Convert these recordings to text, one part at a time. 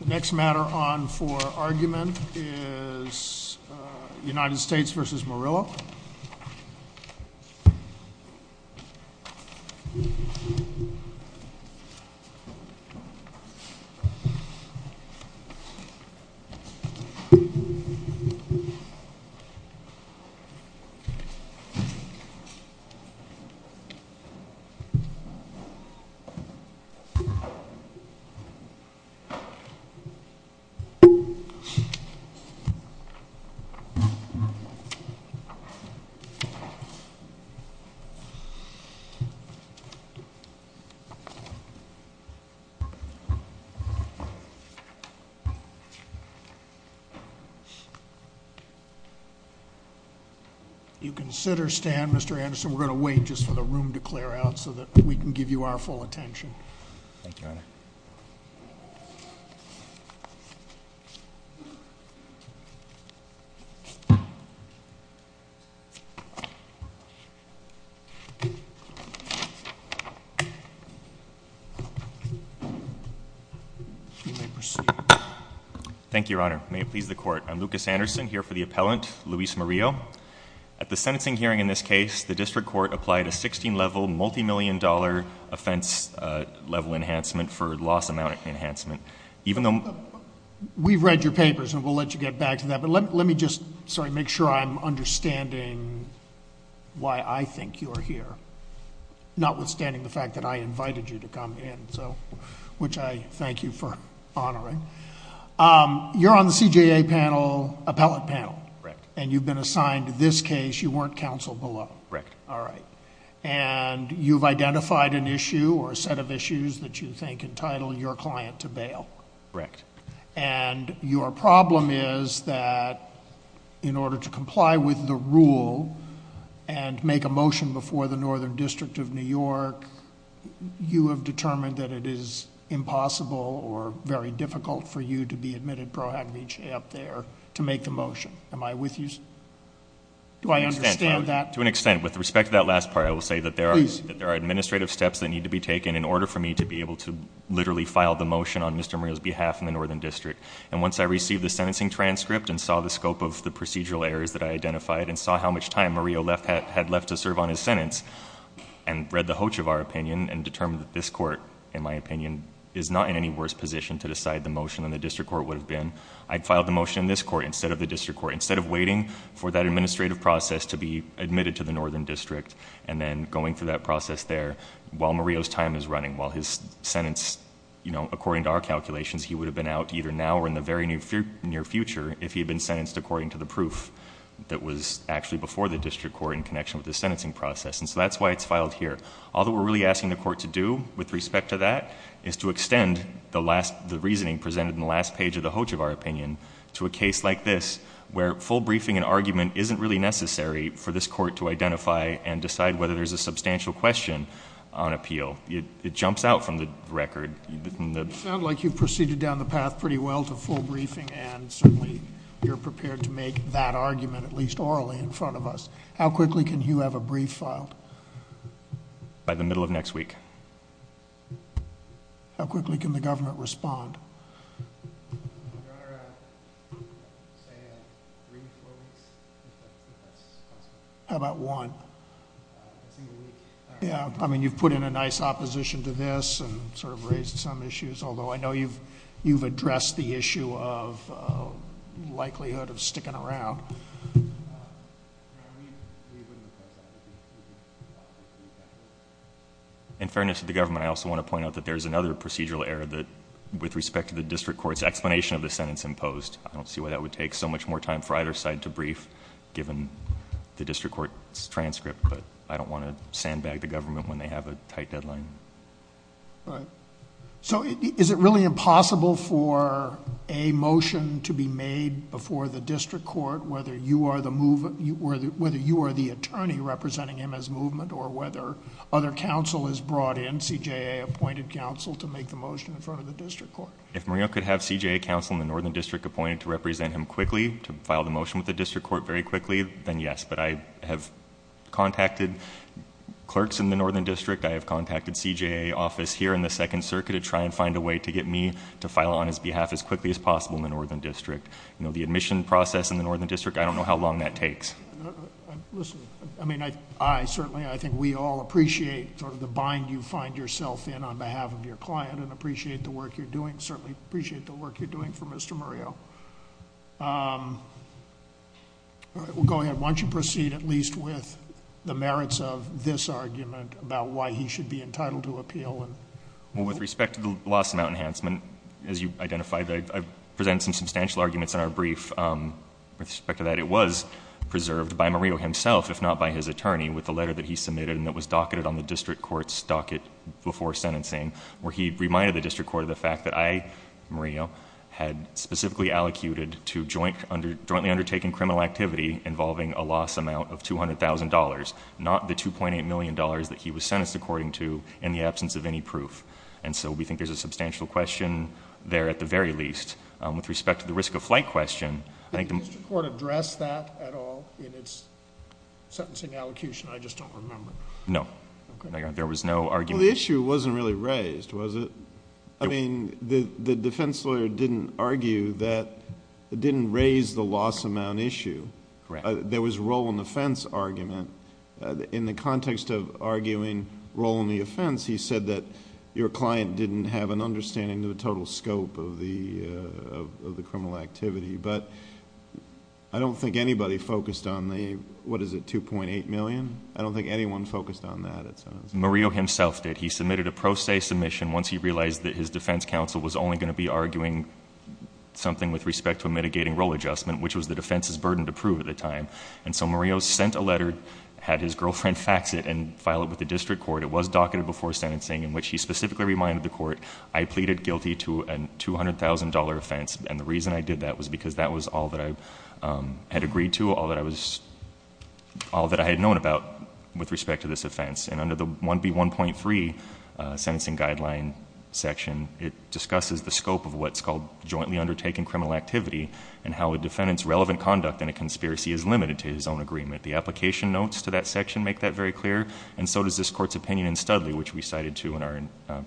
The next matter on for argument is United States v. Morillo. Mr. Anderson, we're going to wait just for the room to clear out so that we can give you our full attention. Thank you, Your Honor. May it please the Court. I'm Lucas Anderson here for the appellant, Luis Morillo. At the sentencing hearing in this case, the District $1,000,000 offense level enhancement for loss amount enhancement. Even though... We've read your papers and we'll let you get back to that, but let me just, sorry, make sure I'm understanding why I think you are here, notwithstanding the fact that I invited you to come in, which I thank you for honoring. You're on the CJA panel, appellate panel. Correct. You've been assigned to this case, you weren't counsel below. Correct. All right. And you've identified an issue or a set of issues that you think entitle your client to bail. Correct. And your problem is that in order to comply with the rule and make a motion before the Northern District of New York, you have determined that it is impossible or very difficult for you to be admitted pro agmenta up there to make the motion. Am I with you? Do I understand that? To an extent. With respect to that last part, I will say that there are administrative steps that need to be taken in order for me to be able to literally file the motion on Mr. Murillo's behalf in the Northern District. And once I received the sentencing transcript and saw the scope of the procedural errors that I identified and saw how much time Murillo had left to serve on his sentence and read the hoach of our opinion and determined that this court, in my opinion, is not in any worse position to decide the motion than the district court would have been, I'd filed the motion in this court instead of the district court. Instead of waiting for that administrative process to be admitted to the Northern District and then going through that process there while Murillo's time is running, while his sentence, you know, according to our calculations, he would have been out either now or in the very near future if he had been sentenced according to the proof that was actually before the district court in connection with the sentencing process. And so that's why it's filed here. All that we're really asking the court to do with respect to that is to extend the reasoning presented in the last page of the hoach of our opinion to a case like this where full briefing and argument isn't really necessary for this court to identify and decide whether there's a substantial question on appeal. It jumps out from the record. You sound like you've proceeded down the path pretty well to full briefing and certainly you're prepared to make that argument at least orally in front of us. How quickly can you have a brief filed? By the middle of next week. How quickly can the government respond? Your Honor, I'd say three to four weeks if that's possible. How about one? A single week. Yeah, I mean, you've put in a nice opposition to this and sort of raised some issues, although I know you've addressed the issue of likelihood of sticking around. In fairness to the government, I also want to point out that there's another procedural error that with respect to the district court's explanation of the sentence imposed. I don't see why that would take so much more time for either side to brief given the district court's transcript, but I don't want to sandbag the government when they have a tight deadline. All right. Is it really impossible for a motion to be made before the district court whether you are the attorney representing him as movement or whether other counsel is brought in, CJA appointed counsel, to make the motion in front of the district court? If Mario could have CJA counsel in the northern district appointed to represent him quickly, to file the motion with the district court very quickly, then yes, but I have contacted clerks in the northern district. I have contacted CJA office here in the Second Circuit to try and find a way to get me to file on his behalf as quickly as possible in the northern district. You know, the admission process in the northern district, I don't know how long that takes. Listen, I mean, I certainly, I think we all appreciate sort of the bind you find yourself in on behalf of your client and appreciate the work you're doing, certainly appreciate the work you're doing for Mr. Mario. All right. Well, go ahead. Why don't you proceed at least with the merits of this argument about why he should be entitled to appeal? Well, with respect to the loss amount enhancement, as you've identified, I've presented some substantial arguments in our brief with respect to that. It was preserved by Mario himself, if not by his attorney, with the letter that he submitted and that was docketed on the district court's docket before sentencing where he reminded the district court of the fact that I, Mario, had specifically allocated to jointly undertaking criminal activity involving a loss amount of $200,000, not the $2.8 million that he was sentenced according to in the absence of any proof. And so we think there's a substantial question there at the very least. With respect to the risk of flight question, I think... Did the district court address that at all in its sentencing allocution? I just don't remember. No. Okay. There was no argument... Well, the issue wasn't really raised, was it? No. I mean, the defense lawyer didn't argue that, didn't raise the loss amount issue. Correct. There was a role and offense argument. In the context of arguing role and the offense, he said that your client didn't have an understanding of the total scope of the criminal activity. But I don't think anybody focused on the, what is it, $2.8 million? I don't think anyone focused on that at sentencing. Mario himself did. He submitted a pro se submission once he realized that his defense counsel was only going to be arguing something with respect to a mitigating role adjustment, which was the defense's burden to prove at the time. And so Mario sent a letter, had his girlfriend fax it and file it with the district court. It was docketed before sentencing in which he specifically reminded the court, I pleaded guilty to a $200,000 offense. And the reason I did that was because that was all that I had agreed to, all that I was... all that I had known about with respect to this offense. And under the 1B1.3 sentencing guideline section, it discusses the scope of what's called jointly undertaken criminal activity and how a defendant's relevant conduct in a conspiracy is limited to his own agreement. The application notes to that section make that very clear. And so does this court's opinion in Studley, which we cited too in our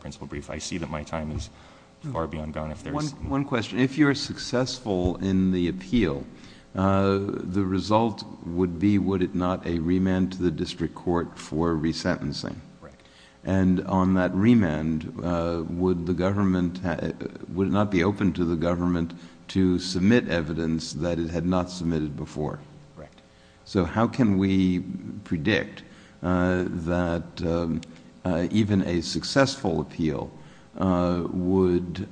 principal brief. I see that my time is far beyond gone if there's... One question. If you're successful in the appeal, the result would be, would it not a remand to the district court for resentencing? Correct. And on that remand, would the government... would it not be open to the government to submit evidence that it had not submitted before? Correct. So how can we predict that even a successful appeal would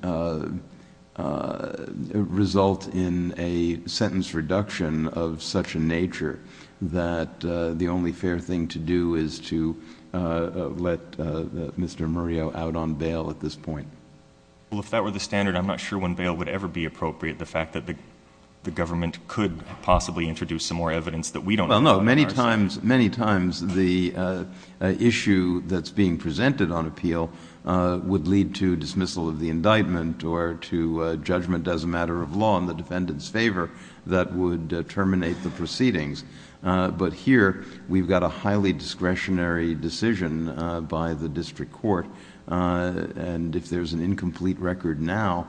result in a sentence reduction of such a nature that the only fair thing to do is to let Mr. Murillo out on bail at this point? Well, if that were the standard, I'm not sure when bail would ever be appropriate, the fact that the government could possibly introduce some more evidence that we don't have. Well, no. Many times... many times the issue that's being presented on appeal would lead to dismissal of the indictment or to judgment as a matter of law in the defendant's proceedings. But here, we've got a highly discretionary decision by the district court. And if there's an incomplete record now,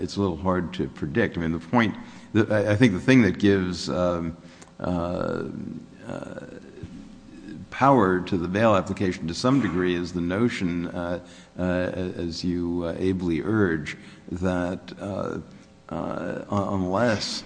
it's a little hard to predict. I mean, the point... I think the thing that gives power to the bail application to some degree is the notion, as you ably urge, that unless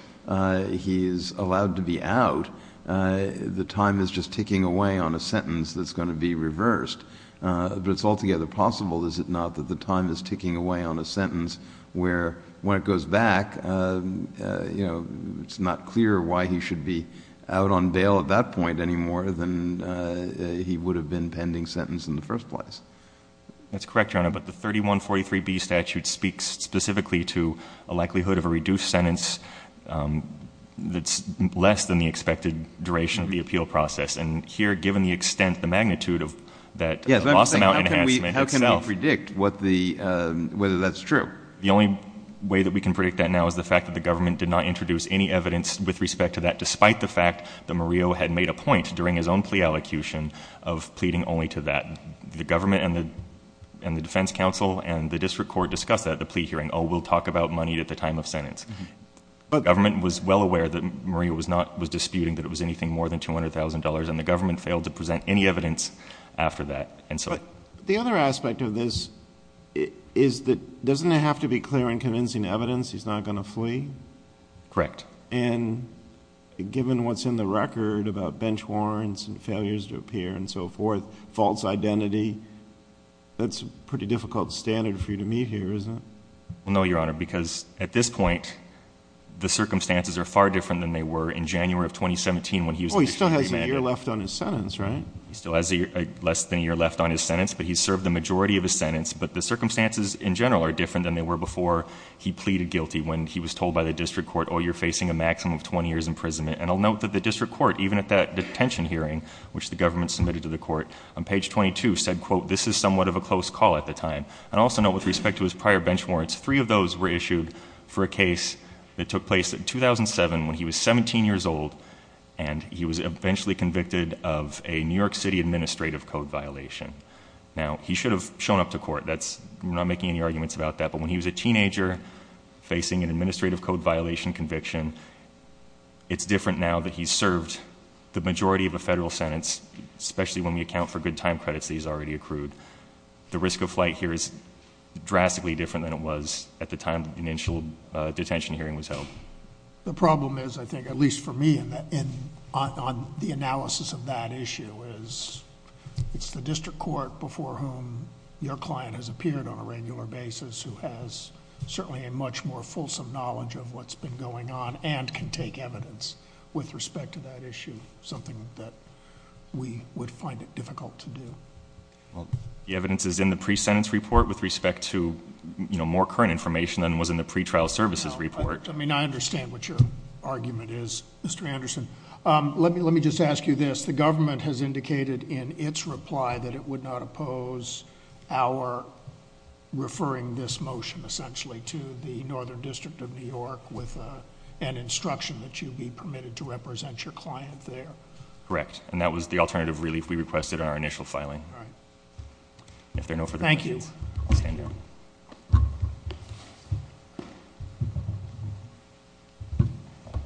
he is allowed to be out, the time is just ticking away on a sentence that's going to be reversed. But it's altogether possible, is it not, that the time is ticking away on a sentence where when it goes back, you know, it's not clear why he should be out on bail at that point any more than he would have been pending sentence in the first place? That's correct, Your Honor. But the 3143B statute speaks specifically to a likelihood of a reduced sentence that's less than the expected duration of the appeal process. And here, given the extent, the magnitude of that loss amount enhancement itself... Yes. How can we predict what the... whether that's true? The only way that we can predict that now is the fact that the government did not introduce any evidence with respect to that, despite the fact that Murillo had made a point during his own plea allocution of pleading only to that. The government and the defense counsel and the district court discussed that at the plea hearing. Oh, we'll talk about money at the time of sentence. But the government was well aware that Murillo was disputing that it was anything more than $200,000 and the government failed to present any evidence after that. But the other aspect of this is that doesn't it have to be clear in convincing evidence he's not going to flee? Correct. And given what's in the record about bench warrants and failures to appear and so forth, false identity, that's a pretty difficult standard for you to meet here, isn't it? No, Your Honor, because at this point, the circumstances are far different than they were in January of 2017... Oh, he still has a year left on his sentence, right? He still has less than a year left on his sentence, but he served the majority of his sentence. But the circumstances in general are different than they were before he pleaded guilty when he was told by the district court, oh, you're facing a maximum of 20 years imprisonment. And I'll note that the district court, even at that detention hearing, which the government submitted to the court, on page 22 said, quote, this is somewhat of a close call at the time. And I'll also note with respect to his prior bench warrants, three of those were issued for a case that took place in 2007... when he was 17 years old and he was eventually convicted of a New York City administrative code violation. Now, he should have shown up to court. That's... we're not making any arguments about that. But, when he was a teenager, facing an administrative code violation conviction, it's different now that he's served the majority of a federal sentence, especially when we account for good time credits that he's already accrued. The risk of flight here is drastically different than it was at the time the initial detention hearing was held. The problem is, I think, at least for me, on the analysis of that issue is... it's the district court before whom your client has appeared on a regular basis, who has certainly a much more fulsome knowledge of what's been going on and can take evidence with respect to that issue. Something that we would find it difficult to do. Well, the evidence is in the pre-sentence report with respect to, you know, more current information than was in the pretrial services report. I mean, I understand what your argument is, Mr. Anderson. Let me just ask you this. The government has indicated in its reply that it would not oppose our referring this motion, essentially, to the Northern District of New York with an instruction that you be permitted to represent your client there. Correct. And, that was the alternative relief we requested in our initial filing. All right. If there are no further questions... Thank you. I'll stand down.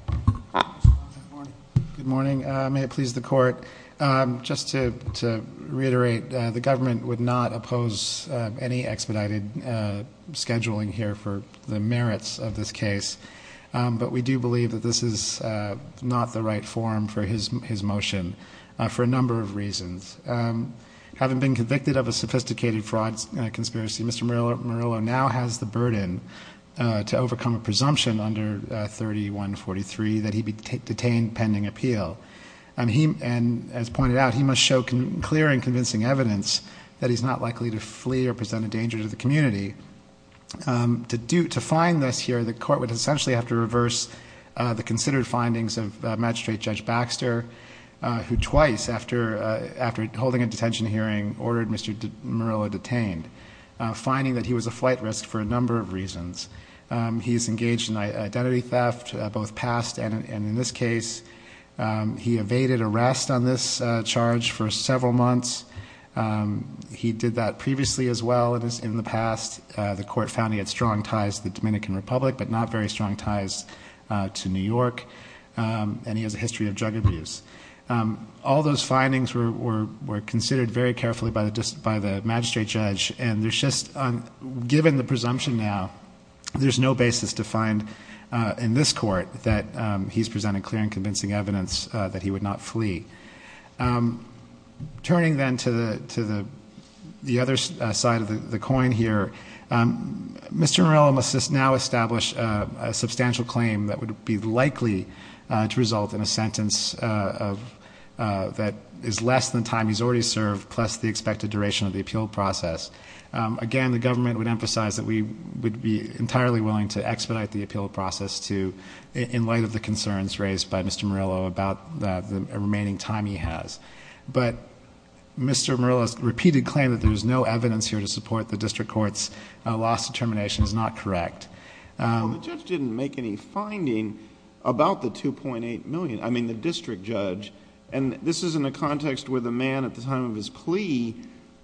Thank you. Good morning. May it please the court. Just to reiterate, the government would not oppose any expedited scheduling here for the merits of this case. But, we do believe that this is not the right forum for his motion for a number of reasons. Having been convicted of a sophisticated fraud conspiracy, Mr. Murillo now has the burden to overcome a presumption under 3143 that he be detained pending appeal. And, as pointed out, he must show clear and convincing evidence that he's not likely to flee or present a danger to the community. To find this here, the court would essentially have to reverse the considered findings of Magistrate Judge Baxter, who twice, after holding a detention hearing, ordered Mr. Murillo detained, finding that he was a flight risk for a number of reasons. He's engaged in identity theft, both past and in this case. He evaded arrest on this charge for several months. He did that previously, as well, in the past. The court found he had strong ties to the Dominican Republic, but not very strong ties to New York. And, he has a history of drug abuse. All those findings were considered very carefully by the magistrate judge. And, there's just, given the presumption now, there's no basis to find, in this court, that he's presented clear and convincing evidence that he would not flee. Turning, then, to the other side of the coin here, Mr. Murillo must now establish a substantial claim that would be likely to result in a sentence that is less than the time he's already served, plus the expected duration of the appeal process. Again, the government would emphasize that we would be entirely willing to expedite the appeal process in light of the concerns raised by Mr. Murillo about the remaining time he has. But, Mr. Murillo's repeated claim that there's no evidence here to support the district court's loss determination is not correct. Well, the judge didn't make any finding about the $2.8 million. I mean, the district judge. And, this is in a context where the man, at the time of his plea,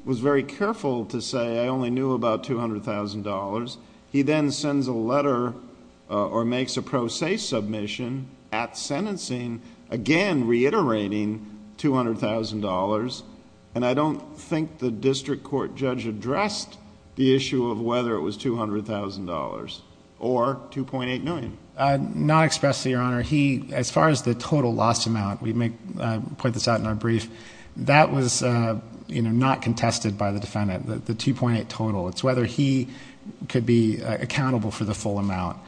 was very careful to say, I only knew about $200,000. He then sends a letter or makes a pro se submission at sentencing, again reiterating $200,000. And, I don't think the district court judge addressed the issue of whether it was $200,000 or $2.8 million. Not expressly, Your Honor. He, as far as the total loss amount, we may point this out in our brief, that was not contested by the defendant, the $2.8 million total. It's whether he could be accountable for the full amount.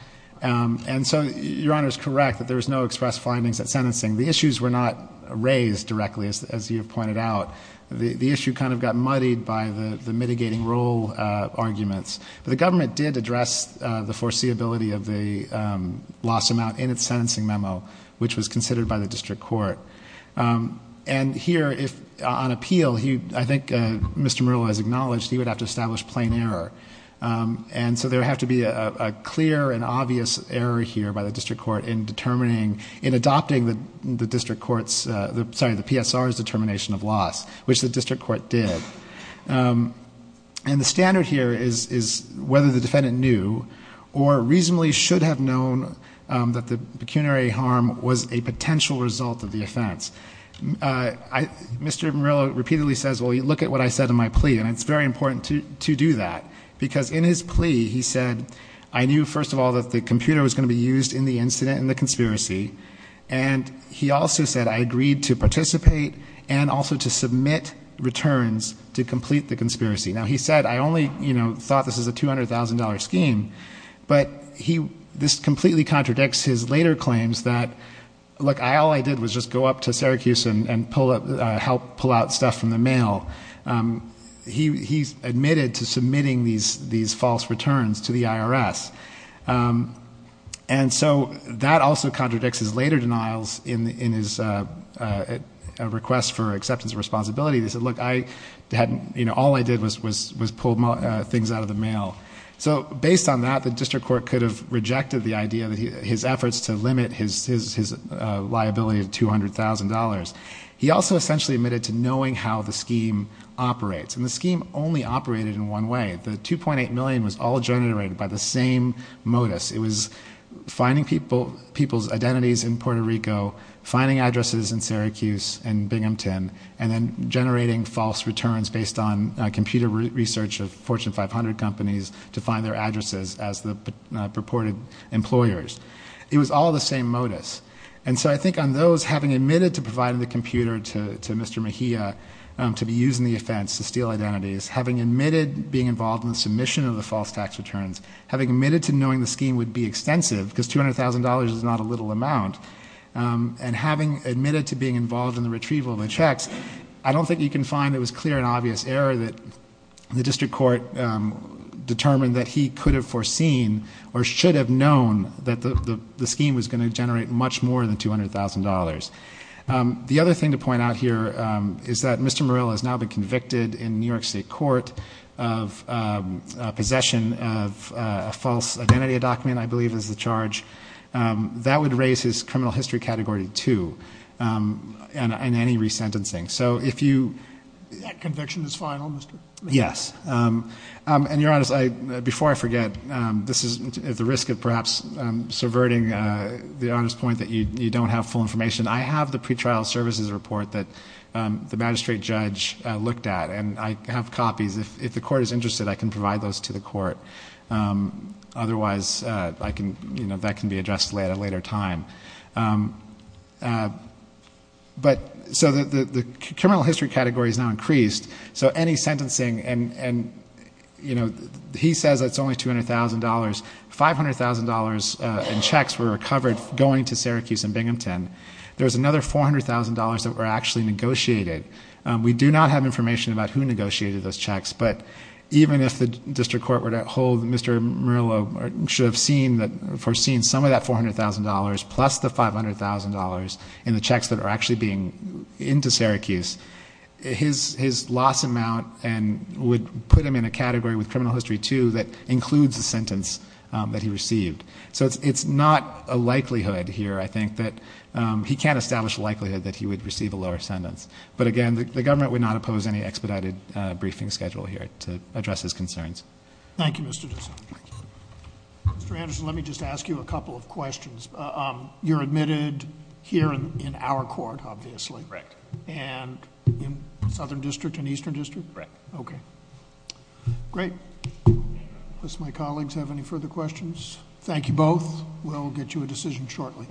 And so, Your Honor is correct that there's no express findings at sentencing. The issues were not raised directly, as you have pointed out. The issue kind of got muddied by the mitigating rule arguments. But, the government did address the foreseeability of the loss amount in its sentencing memo, which was considered by the district court. And, here, on appeal, I think Mr. Murillo has acknowledged he would have to establish plain error. And so, there would have to be a clear and obvious error here by the district court in adopting the district court's, sorry, the PSR's determination of loss, which the district court did. And, the standard here is whether the defendant knew or reasonably should have known that the pecuniary harm was a potential result of the offense. Mr. Murillo repeatedly says, well, look at what I said in my plea. And, it's very important to do that. Because, in his plea, he said, I knew, first of all, that the computer was going to be used in the incident, in the conspiracy. And, he also said, I agreed to participate and also to submit returns to complete the conspiracy. Now, he said, I only, you know, thought this was a $200,000 scheme. But, this completely contradicts his later claims that, look, all I did was just go up to Syracuse and help pull out stuff from the mail. He admitted to submitting these false returns to the IRS. And so, that also contradicts his later denials in his request for acceptance of responsibility. He said, look, I hadn't, you know, all I did was pull things out of the mail. So, based on that, the district court could have rejected the idea, his efforts to limit his liability of $200,000. He also essentially admitted to knowing how the scheme operates. And, the scheme only operated in one way. The $2.8 million was all generated by the same modus. It was finding people's identities in Puerto Rico, finding addresses in Syracuse and Binghamton, and then generating false returns based on computer research of Fortune 500 companies to find their addresses as the purported employers. It was all the same modus. And so, I think on those, having admitted to providing the computer to Mr. Mejia to be used in the offense to steal identities, having admitted being involved in the submission of the false tax returns, having admitted to knowing the scheme would be extensive because $200,000 is not a little amount, and having admitted to being involved in the retrieval of the checks, I don't think you can find that it was clear and obvious error that the district court determined that he could have foreseen or should have known that the scheme was going to generate much more than $200,000. The other thing to point out here is that Mr. Murill has now been convicted in New York State Court of possession of a false identity document, I believe is the charge. That would raise his criminal history Category 2 and any resentencing. So, if you... That conviction is final, Mr. Mejia? Yes. And your Honor, before I forget, this is at the risk of perhaps subverting the Honor's point that you don't have full information. I have the pretrial services report that the magistrate judge looked at, and I have copies. If the court is interested, I can provide those to the court. Otherwise, that can be addressed at a later time. So, any sentencing, and he says it's only $200,000. $500,000 in checks were recovered going to Syracuse and Binghamton. There was another $400,000 that were actually negotiated. We do not have information about who negotiated those checks, but even if the district court were to hold Mr. Murill should have foreseen some of that $400,000 plus the $500,000 in the checks that are actually being into Syracuse. His loss amount would put him in a category with criminal history, too, that includes the sentence that he received. So, it's not a likelihood here, I think, that he can't establish a likelihood that he would receive a lower sentence. But again, the government would not oppose any expedited briefing schedule here to address his concerns. Thank you, Mr. Dixon. Mr. Anderson, let me just ask you a couple of questions. You're admitted here in our court, obviously. Correct. And in Southern District and Eastern District? Correct. Okay. Great. Unless my colleagues have any further questions. Thank you both. We'll get you a decision shortly.